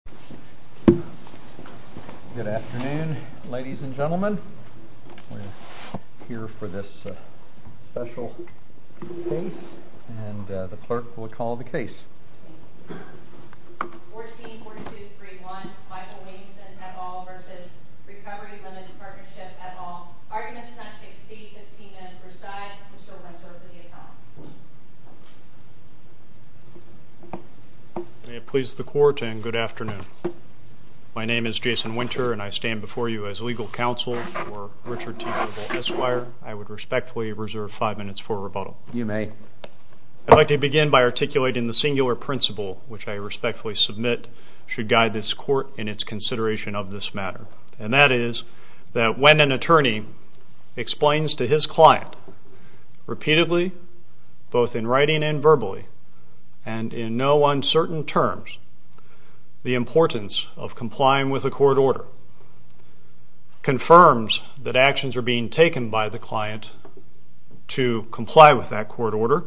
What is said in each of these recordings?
14-4231 Michael Williamson v. Recovery Ltd Partnership at all. Arguments not to exceed 15 minutes per side. Mr. Rensselaer for the account. My name is Jason Winter and I stand before you as legal counsel for Richard T. Global Esquire. I would respectfully reserve five minutes for rebuttal. You may. I'd like to begin by articulating the singular principle which I respectfully submit should guide this court in its consideration of this matter. And that is that when an attorney explains to his client repeatedly both in writing and verbally and in no uncertain terms the importance of complying with a court order, confirms that actions are being taken by the client to comply with that court order,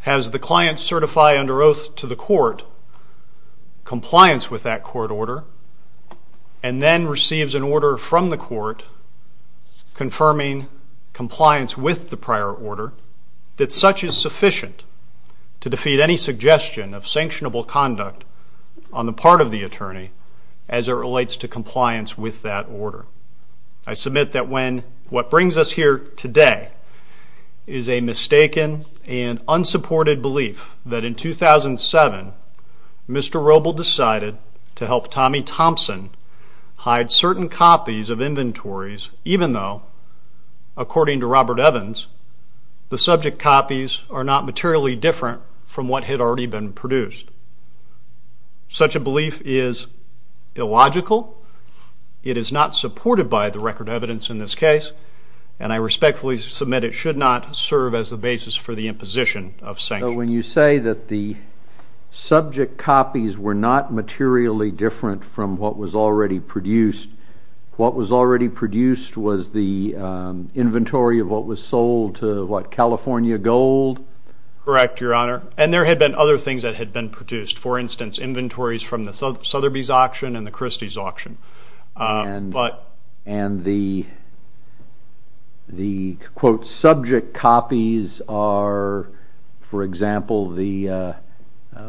has the client certify under oath to the court compliance with that court order, and then receives an order from the court confirming compliance with the prior order, that such is sufficient to defeat any suggestion of sanctionable conduct on the part of the attorney as it relates to compliance with that order. I submit that what brings us here today is a mistaken and unsupported belief that in 2007 Mr. Roble decided to help Tommy Thompson hide certain copies of inventories even though, according to Robert Evans, the subject copies are not materially different from what had already been produced. Such a belief is illogical, it is not supported by the record evidence in this case, and I respectfully submit it should not serve as the basis for the imposition of sanctions. So when you say that the subject copies were not materially different from what was already produced, what was already produced was the inventory of what was sold to what, California Gold? Correct, Your Honor. And there had been other things that had been produced, for instance inventories from the Sotheby's auction and the Christie's auction. And the, quote, subject copies are, for example,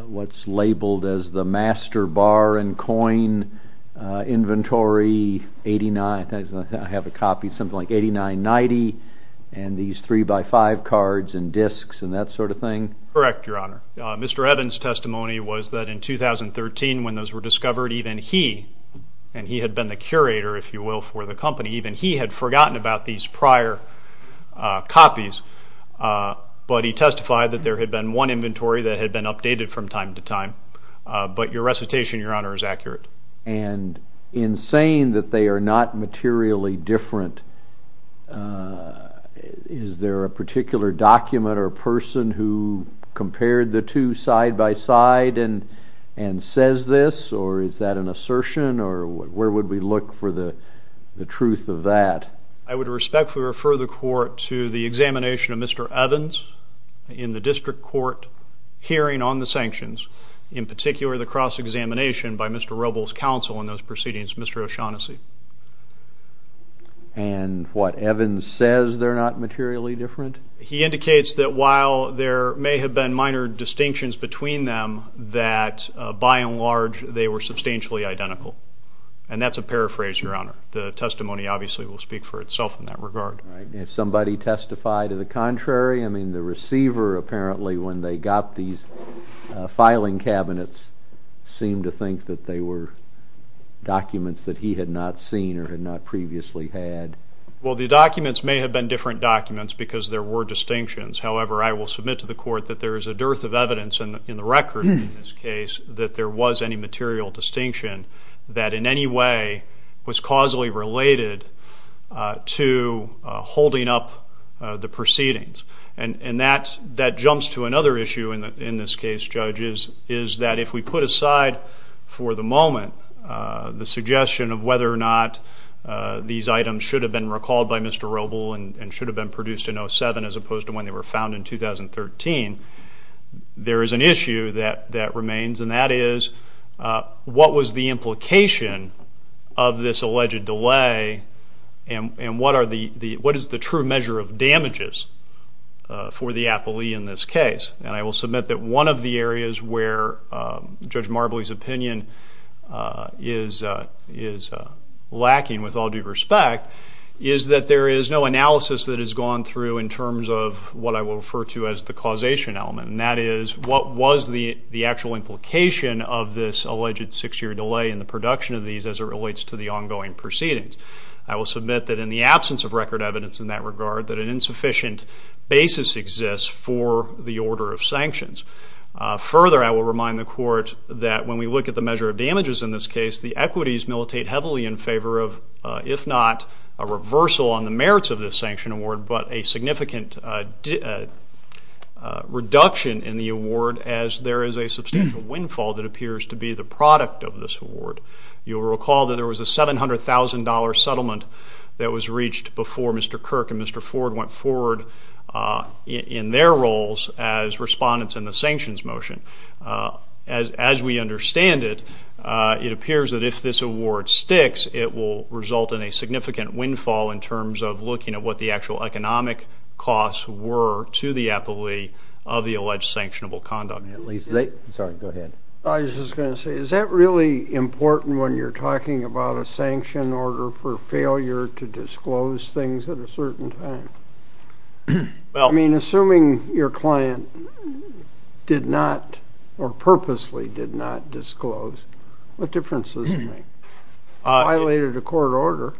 what's labeled as the master bar and coin inventory, I have a copy, something like 8990, and these 3x5 cards and disks and that sort of thing? Correct, Your Honor. Mr. Evans' testimony was that in 2013 when those were discovered, even he, and he had been the curator, if you will, for the company, even he had forgotten about these prior copies, but he testified that there had been one inventory that had been updated from time to time. But your recitation, Your Honor, is accurate. And in saying that they are not materially different, is there a particular document or person who compared the two side by side and says this, or is that an assertion, or where would we look for the truth of that? I would respectfully refer the court to the examination of Mr. Evans in the district court hearing on the sanctions, in particular the cross-examination by Mr. Robles' counsel in those proceedings, Mr. O'Shaughnessy. And what, Evans says they're not materially different? He indicates that while there may have been minor distinctions between them, that by and large they were substantially identical. And that's a paraphrase, Your Honor. The testimony obviously will speak for itself in that regard. Did somebody testify to the contrary? I mean, the receiver apparently, when they got these filing cabinets, seemed to think that they were documents that he had not seen or had not previously had. Well, the documents may have been different documents because there were distinctions. However, I will submit to the court that there is a dearth of evidence in the record in this case that there was any material distinction that in any way was causally related to holding up the proceedings. And that jumps to another issue in this case, Judge, is that if we put aside for the moment the suggestion of whether or not these items should have been recalled by Mr. Robles and should have been produced in 2007 as opposed to when they were found in 2013, there is an issue that remains. And that is, what was the implication of this alleged delay and what is the true measure of damages for the appellee in this case? And I will submit that one of the areas where Judge Marbley's opinion is lacking with all due respect is that there is no analysis that has gone through in terms of what I will refer to as the causation element. And that is, what was the actual implication of this alleged six-year delay in the production of these as it relates to the ongoing proceedings? I will submit that in the absence of record evidence in that regard, that an insufficient basis exists for the order of sanctions. Further, I will remind the Court that when we look at the measure of damages in this case, the equities militate heavily in favor of, if not a reversal on the merits of this sanction award, but a significant reduction in the award as there is a substantial windfall that appears to be the product of this award. You will recall that there was a $700,000 settlement that was reached before Mr. Kirk and Mr. Ford went forward in their roles as respondents in the sanctions motion. As we understand it, it appears that if this award sticks, it will result in a significant windfall in terms of looking at what the actual economic costs were to the appellee of the alleged sanctionable condom. I was just going to say, is that really important when you're talking about a sanction order for failure to disclose things at a certain time? I mean, assuming your client did not, or purposely did not disclose, what difference does it make? It violated a court order.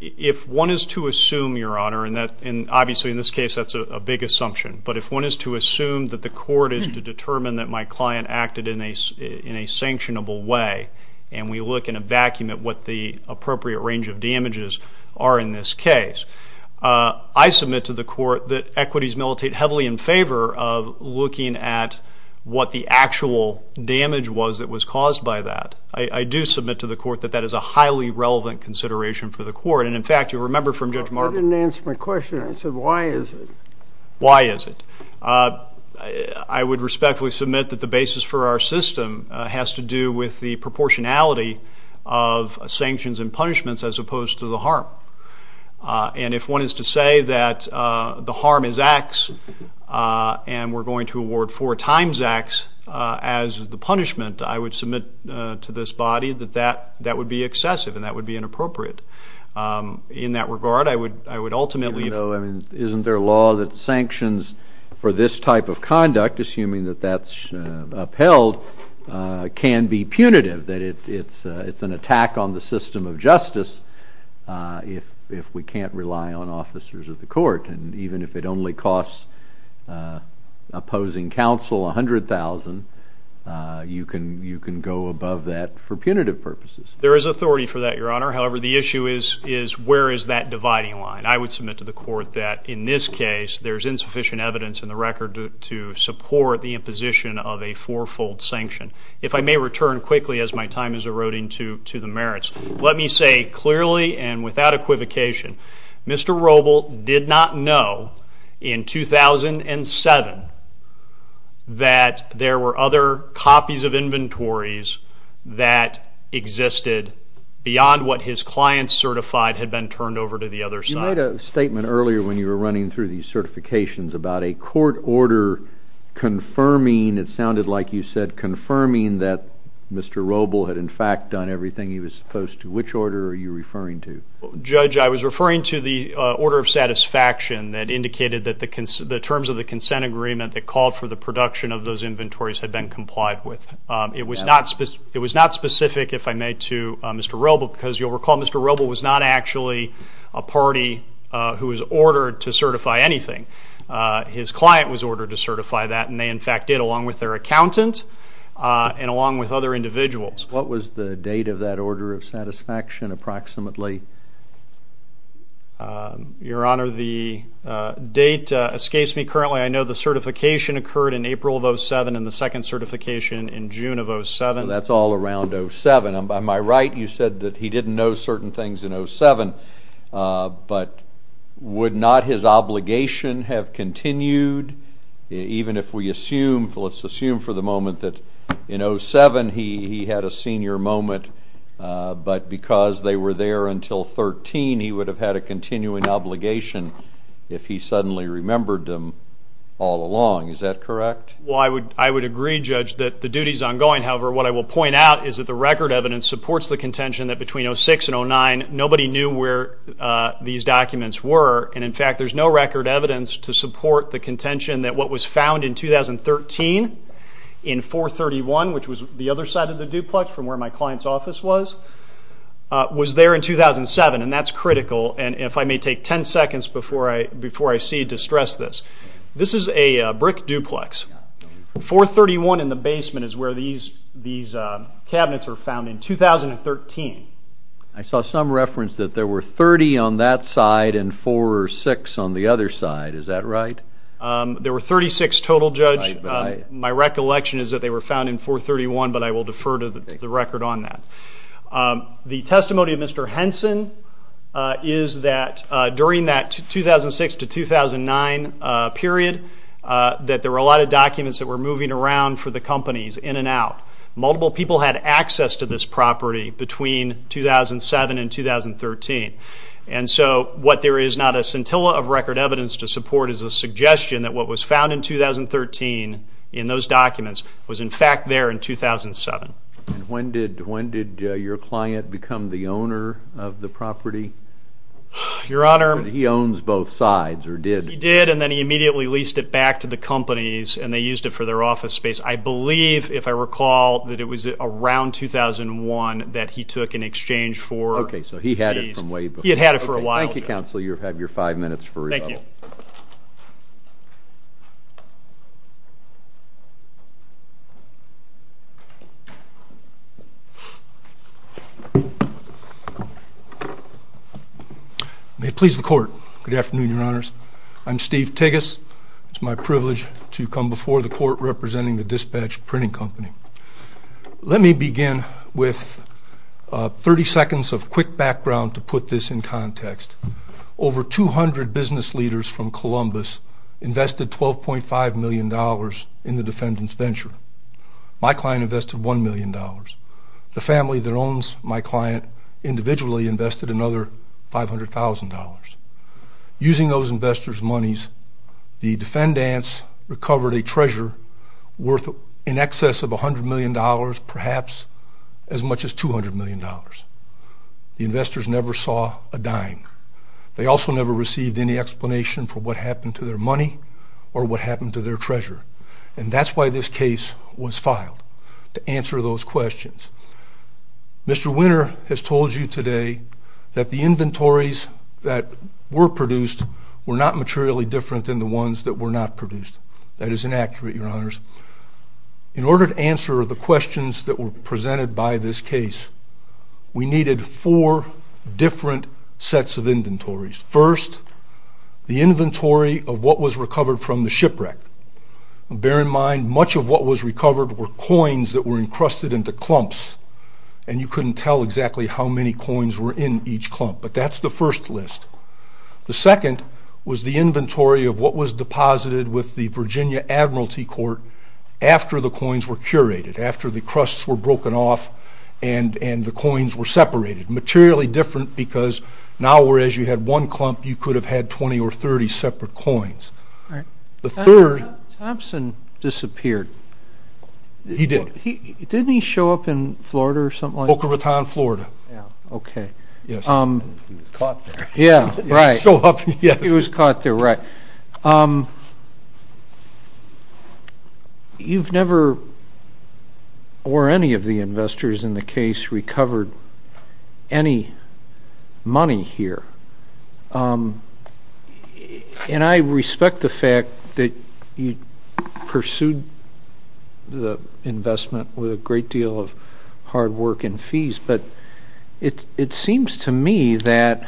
If one is to assume, Your Honor, and obviously in this case that's a big assumption, but if one is to assume that the court is to determine that my client acted in a sanctionable way, and we look in a vacuum at what the appropriate range of damages are in this case, I submit to the Court that equities militate heavily in favor of looking at what the actual damage was that was caused by that. I do submit to the Court that that is a highly relevant consideration for the Court. And, in fact, you'll remember from Judge Marvin. You didn't answer my question. I said, why is it? Why is it? I would respectfully submit that the basis for our system has to do with the proportionality of sanctions and punishments as opposed to the harm. And if one is to say that the harm is X and we're going to award four times X as the punishment, I would submit to this body that that would be excessive and that would be inappropriate. In that regard, I would ultimately... Isn't there a law that sanctions for this type of conduct, assuming that that's upheld, can be punitive, that it's an attack on the system of justice if we can't rely on officers of the court? And even if it only costs opposing counsel $100,000, you can go above that for punitive purposes. There is authority for that, Your Honor. However, the issue is where is that dividing line? I would submit to the Court that, in this case, there's insufficient evidence in the record to support the imposition of a four-fold sanction. If I may return quickly as my time is eroding to the merits, let me say clearly and without equivocation, Mr. Roble did not know in 2007 that there were other copies of inventories that existed beyond what his client certified had been turned over to the other side. You made a statement earlier when you were running through these certifications about a court order confirming, it sounded like you said confirming, that Mr. Roble had, in fact, done everything he was supposed to. Which order are you referring to? Judge, I was referring to the order of satisfaction that indicated that the terms of the consent agreement that called for the production of those inventories had been complied with. It was not specific, if I may, to Mr. Roble, because you'll recall Mr. Roble was not actually a party who was ordered to certify anything. His client was ordered to certify that, and they, in fact, did, along with their accountant and along with other individuals. What was the date of that order of satisfaction approximately? Your Honor, the date escapes me currently. I know the certification occurred in April of 2007 and the second certification in June of 2007. That's all around 2007. By my right, you said that he didn't know certain things in 2007, but would not his obligation have continued, even if we assume, let's assume for the moment, that in 2007 he had a senior moment, but because they were there until 2013, he would have had a continuing obligation if he suddenly remembered them all along. Is that correct? Well, I would agree, Judge, that the duty is ongoing. However, what I will point out is that the record evidence supports the contention that between 2006 and 2009, nobody knew where these documents were. And, in fact, there's no record evidence to support the contention that what was found in 2013 in 431, which was the other side of the duplex from where my client's office was, was there in 2007, and that's critical. And if I may take 10 seconds before I cede to stress this, this is a brick duplex. 431 in the basement is where these cabinets were found in 2013. I saw some reference that there were 30 on that side and four or six on the other side. Is that right? There were 36 total, Judge. My recollection is that they were found in 431, but I will defer to the record on that. The testimony of Mr. Henson is that during that 2006 to 2009 period, that there were a lot of documents that were moving around for the companies in and out. Multiple people had access to this property between 2007 and 2013. And so what there is not a scintilla of record evidence to support is a suggestion that what was found in 2013 in those documents was, in fact, there in 2007. When did your client become the owner of the property? Your Honor. He owns both sides or did? He did, and then he immediately leased it back to the companies, and they used it for their office space. I believe, if I recall, that it was around 2001 that he took in exchange for these. Okay, so he had it from way before. He had had it for a while. Thank you, Counsel. You have your five minutes for rebuttal. Thank you. May it please the Court. Good afternoon, Your Honors. I'm Steve Tigges. It's my privilege to come before the Court representing the Dispatch Printing Company. Let me begin with 30 seconds of quick background to put this in context. Over 200 business leaders from Columbus invested $12.5 million in the defendant's venture. My client invested $1 million. The family that owns my client individually invested another $500,000. Using those investors' monies, the defendants recovered a treasure worth in excess of $100 million, perhaps as much as $200 million. The investors never saw a dime. They also never received any explanation for what happened to their money or what happened to their treasure, and that's why this case was filed, to answer those questions. Mr. Winter has told you today that the inventories that were produced were not materially different than the ones that were not produced. That is inaccurate, Your Honors. In order to answer the questions that were presented by this case, we needed four different sets of inventories. First, the inventory of what was recovered from the shipwreck. Bear in mind, much of what was recovered were coins that were encrusted into clumps, and you couldn't tell exactly how many coins were in each clump, but that's the first list. The second was the inventory of what was deposited with the Virginia Admiralty Court after the coins were curated, after the crusts were broken off and the coins were separated. Materially different because now, whereas you had one clump, you could have had 20 or 30 separate coins. The third... Thompson disappeared. He did. Didn't he show up in Florida or something like that? Boca Raton, Florida. Yeah, okay. Yes. He was caught there. Yeah, right. He showed up, yes. He was caught there, right. You've never, or any of the investors in the case, recovered any money here, and I respect the fact that you pursued the investment with a great deal of hard work and fees, but it seems to me that,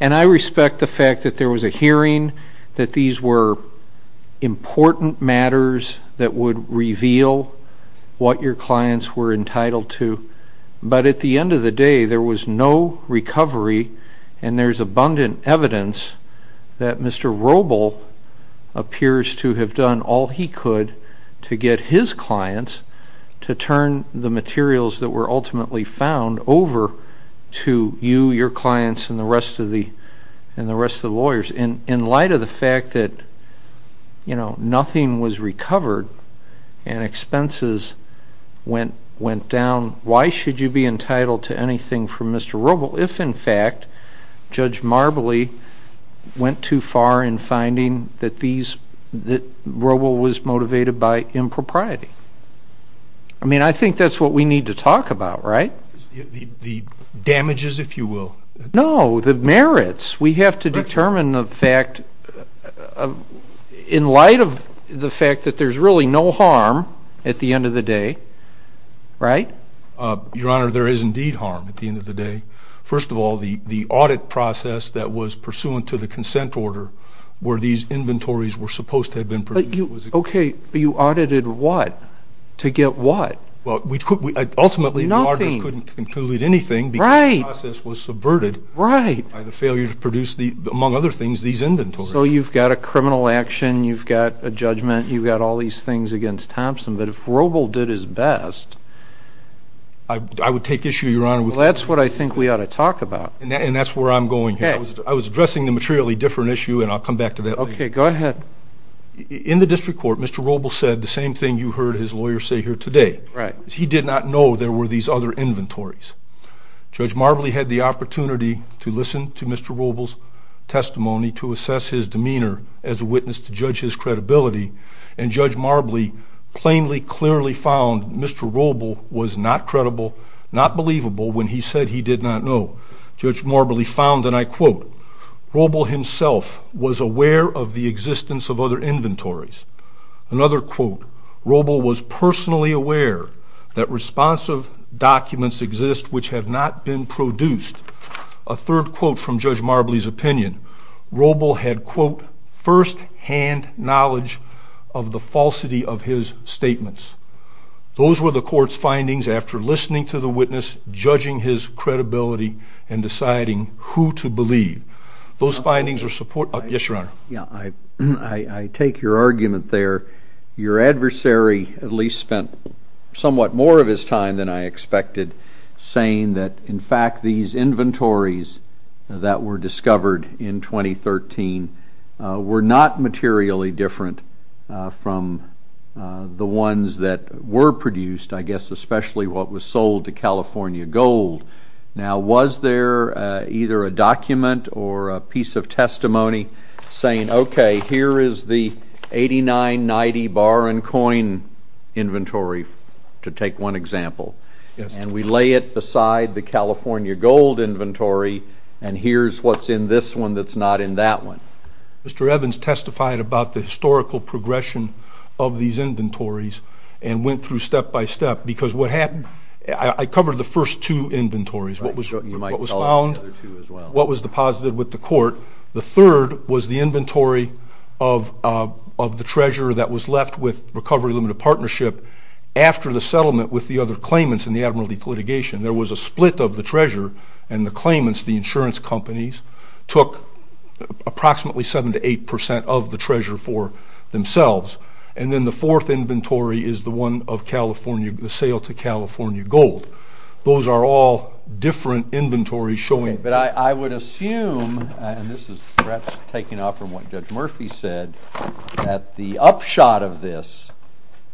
and I respect the fact that there was a hearing, that these were important matters that would reveal what your clients were entitled to, but at the end of the day, there was no recovery, and there's abundant evidence that Mr. Robel appears to have done all he could to get his clients to turn the materials that were ultimately found over to you, your clients, and the rest of the lawyers. In light of the fact that nothing was recovered and expenses went down, why should you be entitled to anything from Mr. Robel if, in fact, Judge Marbley went too far in finding that Robel was motivated by impropriety? I mean, I think that's what we need to talk about, right? The damages, if you will. No, the merits. We have to determine the fact, in light of the fact that there's really no harm at the end of the day, right? Your Honor, there is indeed harm at the end of the day. First of all, the audit process that was pursuant to the consent order where these inventories were supposed to have been produced. Okay, but you audited what? To get what? Ultimately, the auditors couldn't conclude anything because the process was subverted by the failure to produce, among other things, these inventories. So you've got a criminal action, you've got a judgment, you've got all these things against Thompson. But if Robel did his best... I would take issue, Your Honor. Well, that's what I think we ought to talk about. And that's where I'm going here. I was addressing a materially different issue, and I'll come back to that later. Okay, go ahead. In the district court, Mr. Robel said the same thing you heard his lawyer say here today. He did not know there were these other inventories. Judge Marbley had the opportunity to listen to Mr. Robel's testimony, to assess his demeanor as a witness to judge his credibility, and Judge Marbley plainly, clearly found Mr. Robel was not credible, not believable when he said he did not know. Judge Marbley found, and I quote, Robel himself was aware of the existence of other inventories. Another quote, Robel was personally aware that responsive documents exist which have not been produced. A third quote from Judge Marbley's opinion, Robel had, quote, first-hand knowledge of the falsity of his statements. Those were the court's findings after listening to the witness, judging his credibility, and deciding who to believe. Those findings are support... Yes, Your Honor. I take your argument there. Your adversary at least spent somewhat more of his time than I expected saying that, in fact, these inventories that were discovered in 2013 were not materially different from the ones that were produced, I guess especially what was sold to California Gold. Now, was there either a document or a piece of testimony saying, okay, here is the 8990 bar and coin inventory to take one example, and we lay it beside the California Gold inventory, and here's what's in this one that's not in that one. Mr. Evans testified about the historical progression of these inventories and went through step by step because what happened, I covered the first two inventories, what was found, what was deposited with the court. The third was the inventory of the treasurer that was left with Recovery Limited Partnership after the settlement with the other claimants in the admiralty litigation. There was a split of the treasurer and the claimants, the insurance companies, took approximately 7% to 8% of the treasure for themselves. And then the fourth inventory is the one of the sale to California Gold. Those are all different inventories showing... But I would assume, and this is perhaps taking off from what Judge Murphy said, that the upshot of this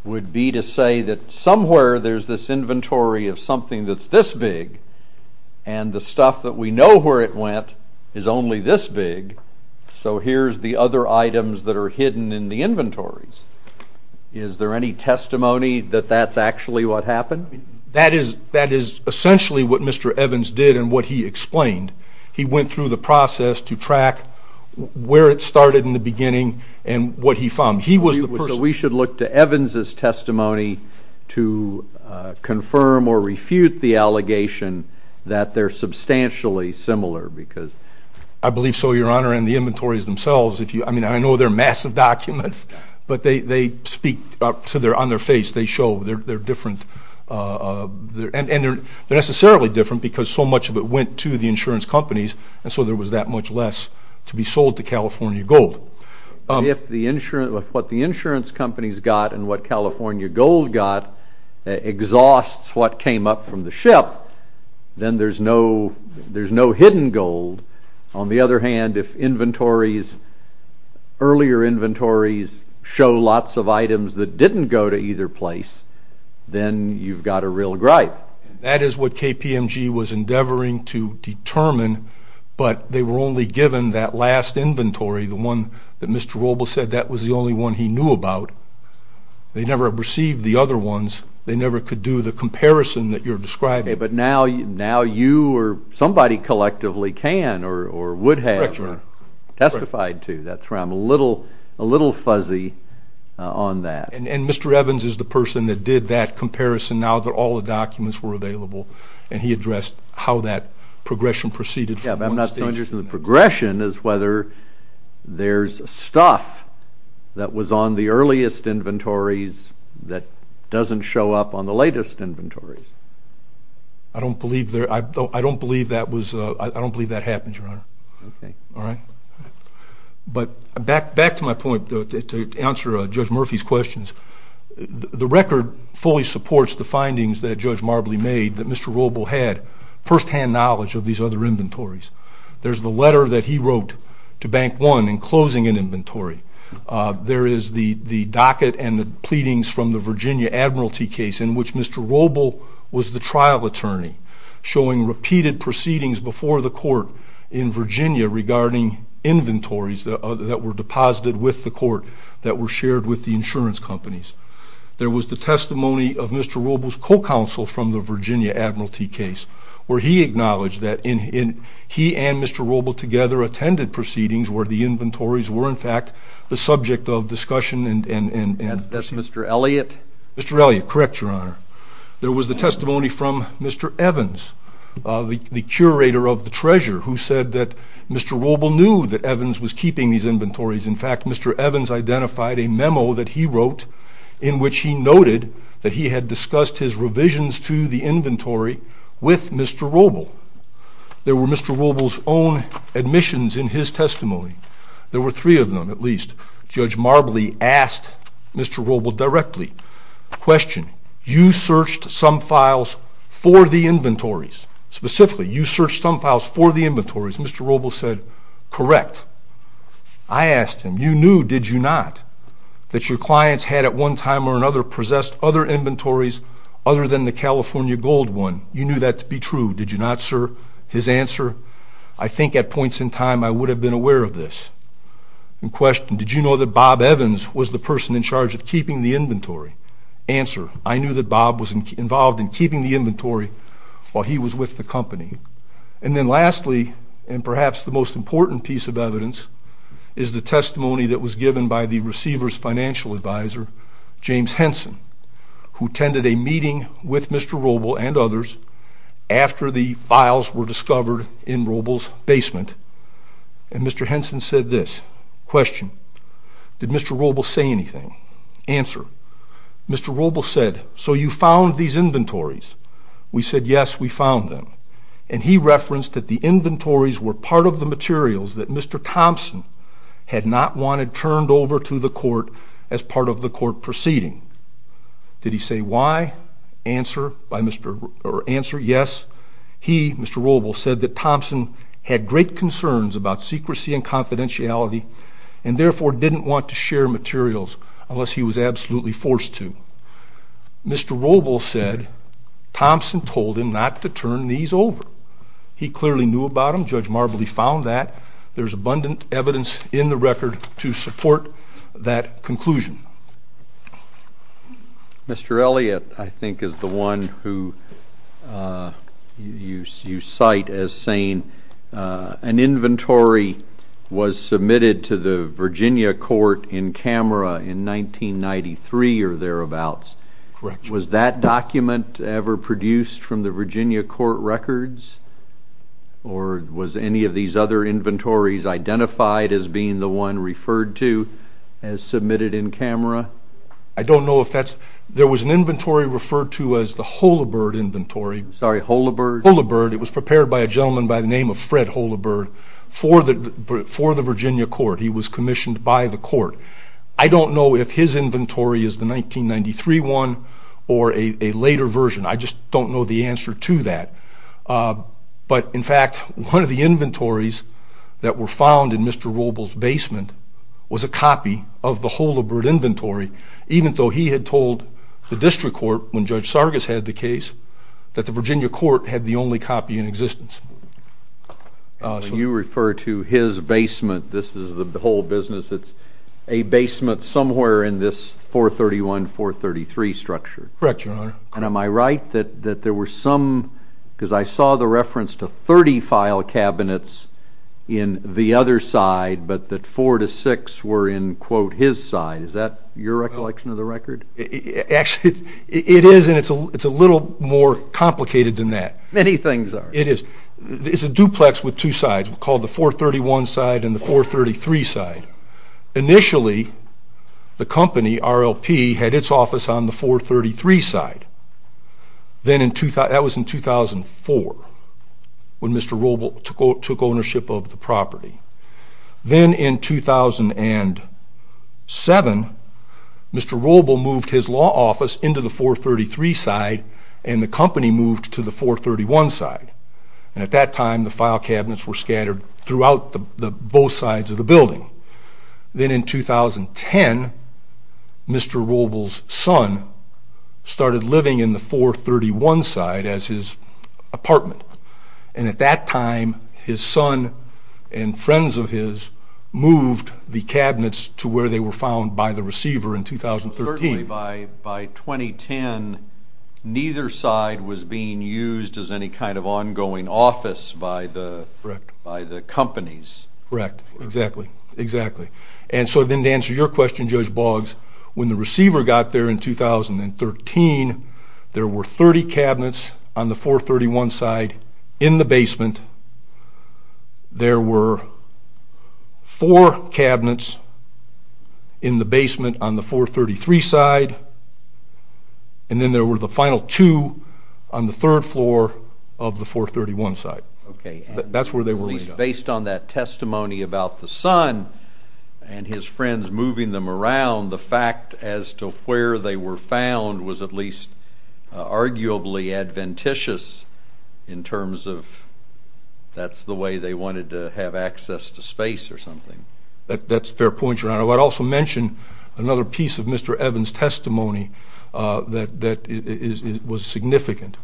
would be to say that somewhere there's this inventory of something that's this big, and the stuff that we know where it went is only this big, so here's the other items that are hidden in the inventories. Is there any testimony that that's actually what happened? That is essentially what Mr. Evans did and what he explained. He went through the process to track where it started in the beginning and what he found. So we should look to Evans' testimony to confirm or refute the allegation that they're substantially similar because... I believe so, Your Honor, and the inventories themselves. I mean, I know they're massive documents, but they speak on their face. They show they're different, and they're necessarily different because so much of it went to the insurance companies, and so there was that much less to be sold to California Gold. If what the insurance companies got and what California Gold got exhausts what came up from the ship, then there's no hidden gold. On the other hand, if earlier inventories show lots of items that didn't go to either place, then you've got a real gripe. That is what KPMG was endeavoring to determine, but they were only given that last inventory, the one that Mr. Robles said that was the only one he knew about. They never received the other ones. They never could do the comparison that you're describing. Okay, but now you or somebody collectively can or would have testified to. I'm a little fuzzy on that. And Mr. Evans is the person that did that comparison now that all the documents were available, and he addressed how that progression proceeded from one stage to the next. Yeah, but I'm not so interested in the progression as whether there's stuff that was on the earliest inventories that doesn't show up on the latest inventories. I don't believe that happened, Your Honor. Okay. But back to my point to answer Judge Murphy's questions. The record fully supports the findings that Judge Marbley made that Mr. Robles had firsthand knowledge of these other inventories. There's the letter that he wrote to Bank One in closing an inventory. There is the docket and the pleadings from the Virginia Admiralty case in which Mr. Robles was the trial attorney, showing repeated proceedings before the court in Virginia regarding inventories that were deposited with the court that were shared with the insurance companies. There was the testimony of Mr. Robles' co-counsel from the Virginia Admiralty case where he acknowledged that he and Mr. Robles together attended proceedings where the inventories were, in fact, the subject of discussion. That's Mr. Elliott? Mr. Elliott, correct, Your Honor. There was the testimony from Mr. Evans, the curator of the treasure, who said that Mr. Robles knew that Evans was keeping these inventories. In fact, Mr. Evans identified a memo that he wrote in which he noted that he had discussed his revisions to the inventory with Mr. Robles. There were Mr. Robles' own admissions in his testimony. There were three of them, at least. Judge Marbley asked Mr. Robles directly, question, you searched some files for the inventories. Specifically, you searched some files for the inventories. Mr. Robles said, correct. I asked him, you knew, did you not, that your clients had at one time or another possessed other inventories other than the California gold one? You knew that to be true, did you not, sir? His answer, I think at points in time I would have been aware of this. Question, did you know that Bob Evans was the person in charge of keeping the inventory? Answer, I knew that Bob was involved in keeping the inventory while he was with the company. And then lastly, and perhaps the most important piece of evidence, is the testimony that was given by the receiver's financial advisor, James Henson, who attended a meeting with Mr. Robles and others after the files were discovered in Robles' basement. And Mr. Henson said this, question, did Mr. Robles say anything? Answer, Mr. Robles said, so you found these inventories? We said, yes, we found them. And he referenced that the inventories were part of the materials that Mr. Thompson had not wanted turned over to the court as part of the court proceeding. Did he say why? Answer, yes, he, Mr. Robles, said that Thompson had great concerns about secrecy and confidentiality and therefore didn't want to share materials unless he was absolutely forced to. Mr. Robles said Thompson told him not to turn these over. He clearly knew about them. Judge Marbley found that. There's abundant evidence in the record to support that conclusion. Mr. Elliott, I think, is the one who you cite as saying an inventory was submitted to the Virginia court in camera in 1993 or thereabouts. Correct. Was that document ever produced from the Virginia court records? Or was any of these other inventories identified as being the one referred to as submitted in camera? I don't know if that's ñ there was an inventory referred to as the Holabird inventory. Sorry, Holabird? Holabird. It was prepared by a gentleman by the name of Fred Holabird for the Virginia court. He was commissioned by the court. I don't know if his inventory is the 1993 one or a later version. I just don't know the answer to that. But, in fact, one of the inventories that were found in Mr. Robles' basement was a copy of the Holabird inventory, even though he had told the district court when Judge Sargas had the case that the Virginia court had the only copy in existence. So you refer to his basement, this is the whole business, it's a basement somewhere in this 431, 433 structure. Correct, Your Honor. And am I right that there were some, because I saw the reference to 30 file cabinets in the other side, but that 4 to 6 were in, quote, his side. Is that your recollection of the record? Actually, it is, and it's a little more complicated than that. Many things are. It is. It's a duplex with two sides called the 431 side and the 433 side. Initially, the company, RLP, had its office on the 433 side. That was in 2004 when Mr. Robles took ownership of the property. Then in 2007, Mr. Robles moved his law office into the 433 side and the company moved to the 431 side. And at that time the file cabinets were scattered throughout both sides of the building. Then in 2010, Mr. Robles' son started living in the 431 side as his apartment, and at that time his son and friends of his moved the cabinets to where they were found by the receiver in 2013. Certainly by 2010, neither side was being used as any kind of ongoing office by the companies. Correct, exactly, exactly. And so then to answer your question, Judge Boggs, when the receiver got there in 2013, there were 30 cabinets on the 431 side in the basement. There were four cabinets in the basement on the 433 side, and then there were the final two on the third floor of the 431 side. Based on that testimony about the son and his friends moving them around, the fact as to where they were found was at least arguably adventitious in terms of that's the way they wanted to have access to space or something. That's a fair point, Your Honor. I'd also mention another piece of Mr. Evans' testimony that was significant.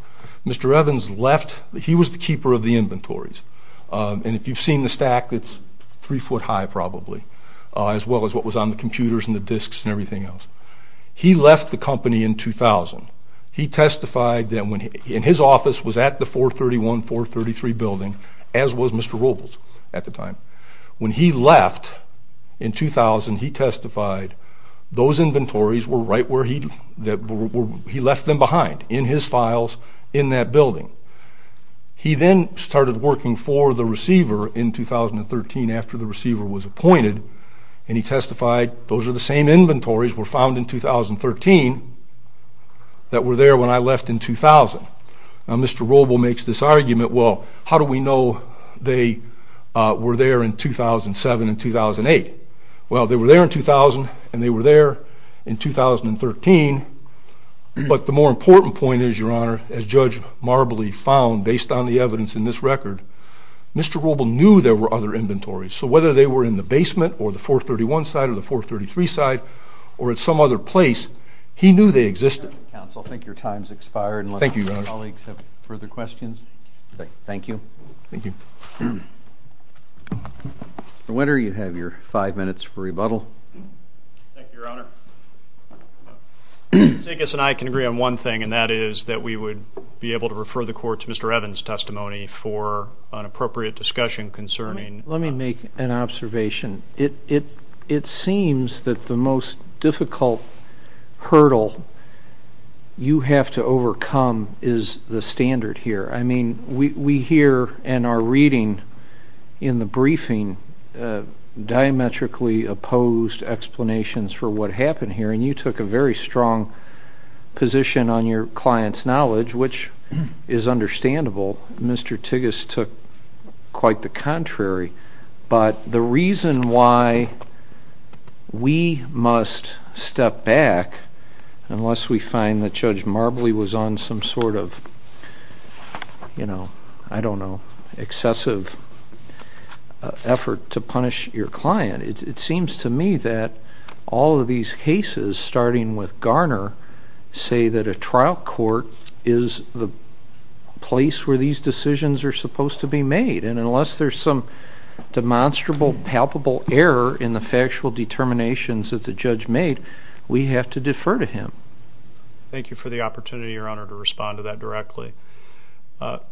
Mr. Evans left. He was the keeper of the inventories, and if you've seen the stack, it's three foot high probably, as well as what was on the computers and the disks and everything else. He left the company in 2000. He testified that when his office was at the 431, 433 building, as was Mr. Robles at the time. When he left in 2000, he testified those inventories were right where he'd left them behind, in his files, in that building. He then started working for the receiver in 2013 after the receiver was appointed, and he testified those are the same inventories were found in 2013 that were there when I left in 2000. Now, Mr. Robles makes this argument, well, how do we know they were there in 2007 and 2008? Well, they were there in 2000 and they were there in 2013, but the more important point is, Your Honor, as Judge Marbley found based on the evidence in this record, Mr. Robles knew there were other inventories, so whether they were in the basement or the 431 side or the 433 side or at some other place, he knew they existed. Counsel, I think your time's expired unless your colleagues have further questions. Thank you. Thank you. Mr. Wetter, you have your five minutes for rebuttal. Thank you, Your Honor. Mr. Zekas and I can agree on one thing, and that is that we would be able to refer the Court to Mr. Evans' testimony for an appropriate discussion concerning Let me make an observation. It seems that the most difficult hurdle you have to overcome is the standard here. I mean, we hear and are reading in the briefing diametrically opposed explanations for what happened here, and you took a very strong position on your client's knowledge, which is understandable. Mr. Tigges took quite the contrary. But the reason why we must step back unless we find that Judge Marbley was on some sort of, you know, I don't know, excessive effort to punish your client, it seems to me that all of these cases, starting with Garner, say that a trial court is the place where these decisions are supposed to be made, and unless there's some demonstrable palpable error in the factual determinations that the judge made, we have to defer to him. Thank you for the opportunity, Your Honor, to respond to that directly.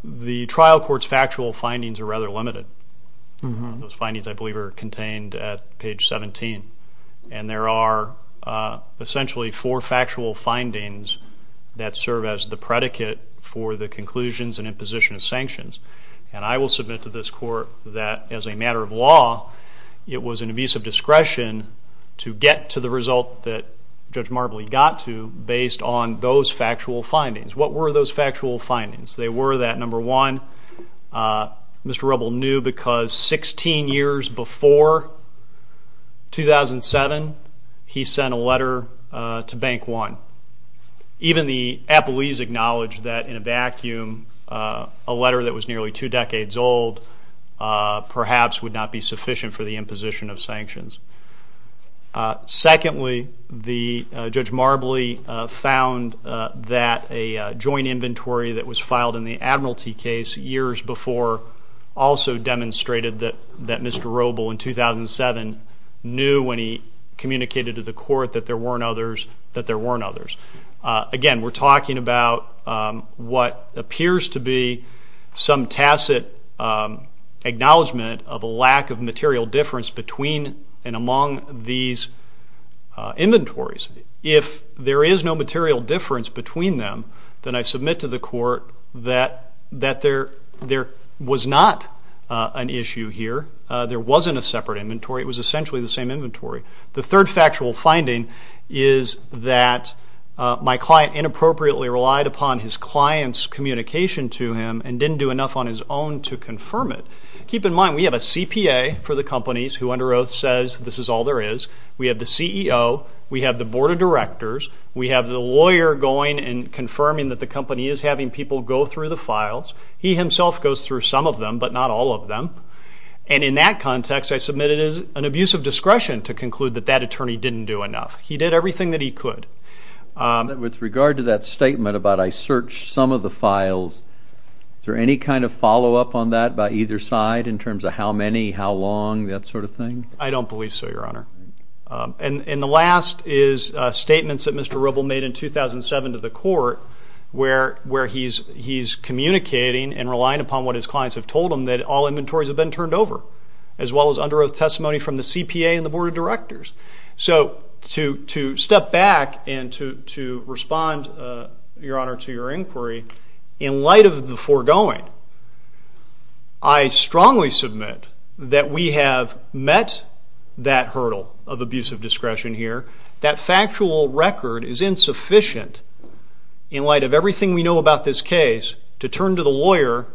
The trial court's factual findings are rather limited. Those findings, I believe, are contained at page 17, and there are essentially four factual findings that serve as the predicate for the conclusions and imposition of sanctions, and I will submit to this court that, as a matter of law, it was an abuse of discretion to get to the result that Judge Marbley got to based on those factual findings. What were those factual findings? They were that, number one, Mr. Rubble knew because 16 years before 2007, he sent a letter to Bank One. Even the appellees acknowledged that, in a vacuum, a letter that was nearly two decades old perhaps would not be sufficient for the imposition of sanctions. Secondly, Judge Marbley found that a joint inventory that was filed in the Admiralty case years before also demonstrated that Mr. Rubble, in 2007, knew when he communicated to the court that there weren't others. Again, we're talking about what appears to be some tacit acknowledgement of a lack of material difference between and among these inventories. If there is no material difference between them, then I submit to the court that there was not an issue here. There wasn't a separate inventory. It was essentially the same inventory. The third factual finding is that my client inappropriately relied upon his client's communication to him and didn't do enough on his own to confirm it. Keep in mind, we have a CPA for the companies who, under oath, says this is all there is. We have the CEO. We have the board of directors. We have the lawyer going and confirming that the company is having people go through the files. He himself goes through some of them, but not all of them. And in that context, I submit it is an abuse of discretion to conclude that that attorney didn't do enough. He did everything that he could. With regard to that statement about I searched some of the files, is there any kind of follow-up on that by either side in terms of how many, how long, that sort of thing? I don't believe so, Your Honor. And the last is statements that Mr. Rubble made in 2007 to the court where he's communicating and relying upon what his clients have told him that all inventories have been turned over, as well as under oath testimony from the CPA and the board of directors. So to step back and to respond, Your Honor, to your inquiry, in light of the foregoing, I strongly submit that we have met that hurdle of abuse of discretion here. That factual record is insufficient in light of everything we know about this case to turn to the lawyer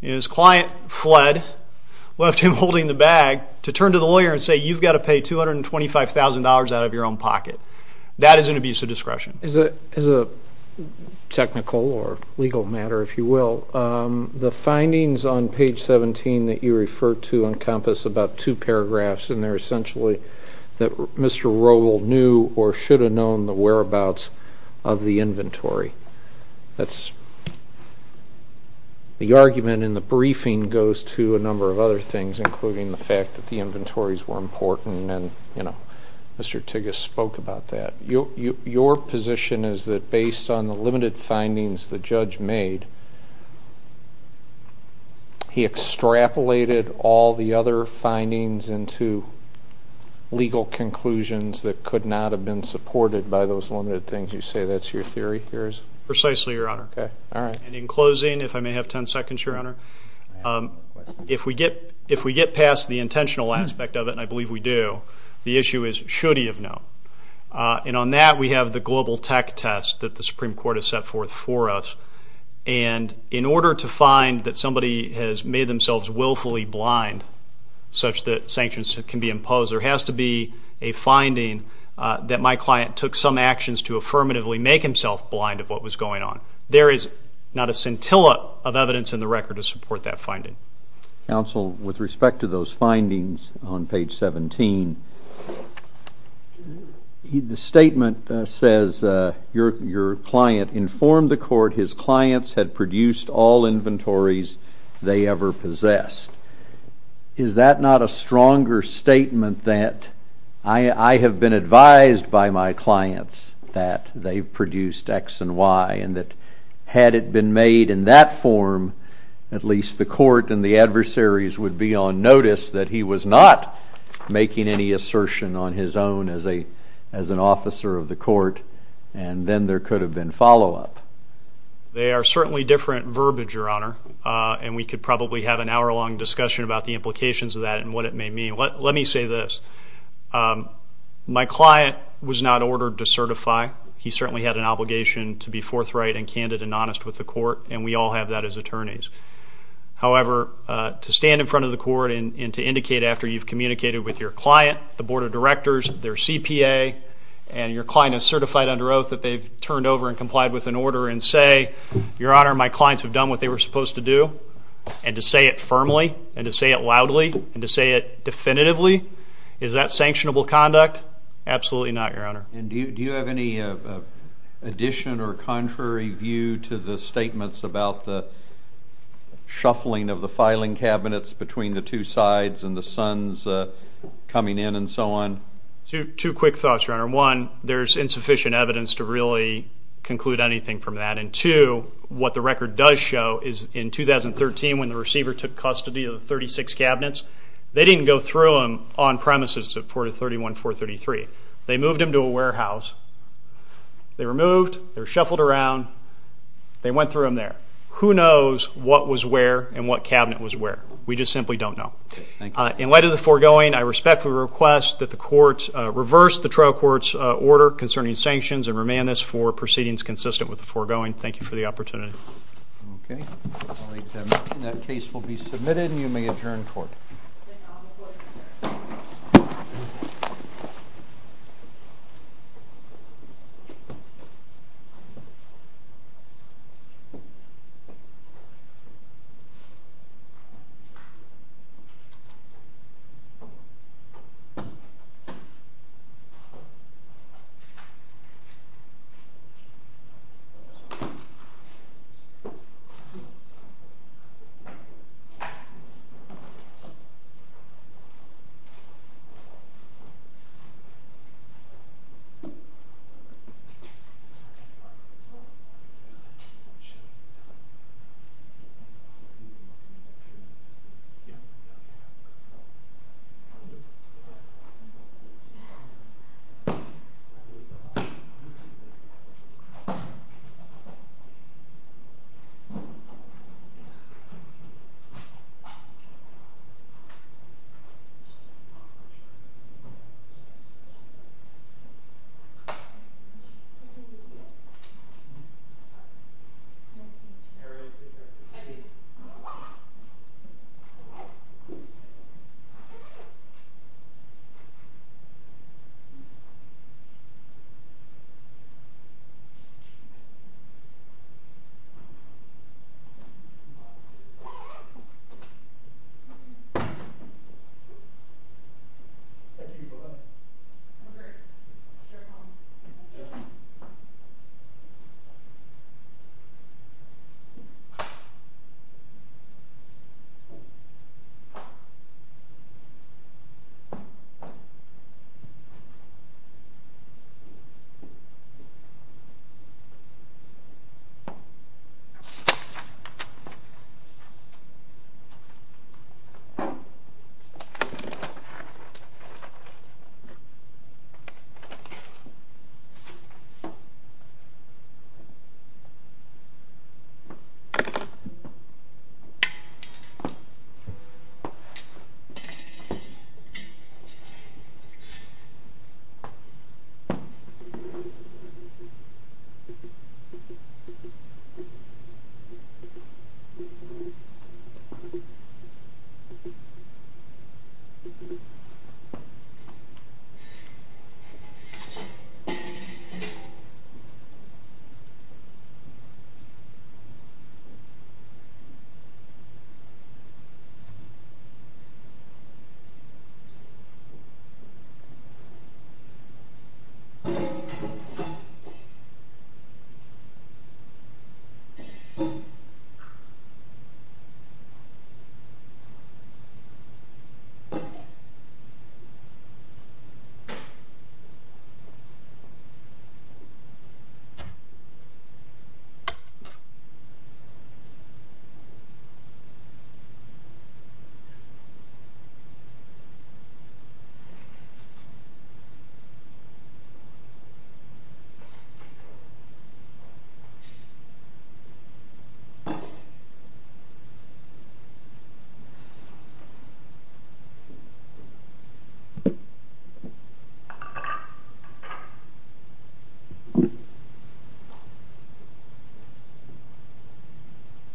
and his client fled, left him holding the bag, to turn to the lawyer and say, you've got to pay $225,000 out of your own pocket. That is an abuse of discretion. As a technical or legal matter, if you will, the findings on page 17 that you refer to encompass about two paragraphs in there, essentially, that Mr. Rubble knew or should have known the whereabouts of the inventory. The argument in the briefing goes to a number of other things, including the fact that the inventories were important, and Mr. Tigges spoke about that. Your position is that based on the limited findings the judge made, he extrapolated all the other findings into legal conclusions that could not have been supported by those limited things. You say that's your theory? Precisely, Your Honor. And in closing, if I may have 10 seconds, Your Honor, if we get past the intentional aspect of it, and I believe we do, the issue is, should he have known? And on that we have the global tech test that the Supreme Court has set forth for us, and in order to find that somebody has made themselves willfully blind, such that sanctions can be imposed, there has to be a finding that my client took some actions to affirmatively make himself blind of what was going on. There is not a scintilla of evidence in the record to support that finding. Counsel, with respect to those findings on page 17, the statement says your client informed the court his clients had produced all inventories they ever possessed. Is that not a stronger statement that I have been advised by my clients that they've produced X and Y, and that had it been made in that form, at least the court and the adversaries would be on notice that he was not making any assertion on his own as an officer of the court, and then there could have been follow-up? They are certainly different verbiage, Your Honor, and we could probably have an hour-long discussion about the implications of that and what it may mean. Let me say this. My client was not ordered to certify. He certainly had an obligation to be forthright and candid and honest with the court, and we all have that as attorneys. However, to stand in front of the court and to indicate after you've communicated with your client, the board of directors, their CPA, and your client is certified under oath that they've turned over and complied with an order and say, Your Honor, my clients have done what they were supposed to do, and to say it firmly and to say it loudly and to say it definitively, is that sanctionable conduct? Absolutely not, Your Honor. And do you have any addition or contrary view to the statements about the shuffling of the filing cabinets between the two sides and the sons coming in and so on? Two quick thoughts, Your Honor. One, there's insufficient evidence to really conclude anything from that, and two, what the record does show is in 2013 when the receiver took custody of the 36 cabinets, they didn't go through them on premises to 431, 433. They moved them to a warehouse. They were moved. They were shuffled around. They went through them there. Who knows what was where and what cabinet was where? We just simply don't know. In light of the foregoing, I respectfully request that the court reverse the trial court's order concerning sanctions and remand this for proceedings consistent with the foregoing. Thank you for the opportunity. Okay. Thank you. Thank you. Thank you. Mary, please have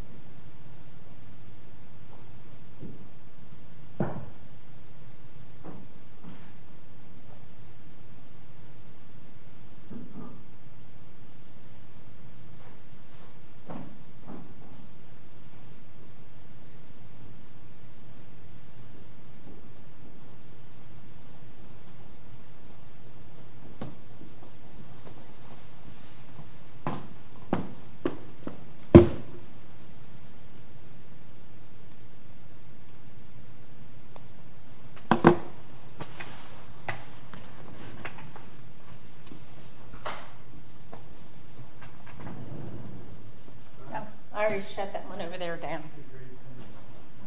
your seat. Thank you, Glen. No worries. Sure, Tom. Thank you. Thank you. Thank you. Thank you. Thank you. Thank you. Thank you. I already shut that one over there down. Great.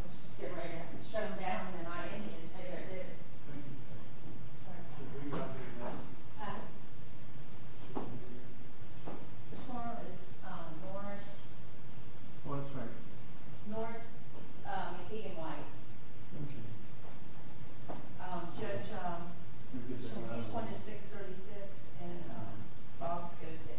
Let's just get right in. Shut them down, and then I am going to tell you how to do it. Thank you. Sorry. This one is Norris. What's that? Norris. He and White. Okay. Joe, Tom. Each one is 636, and Bob's goes to 842. Okay. Thank you. Thank you. Thank you.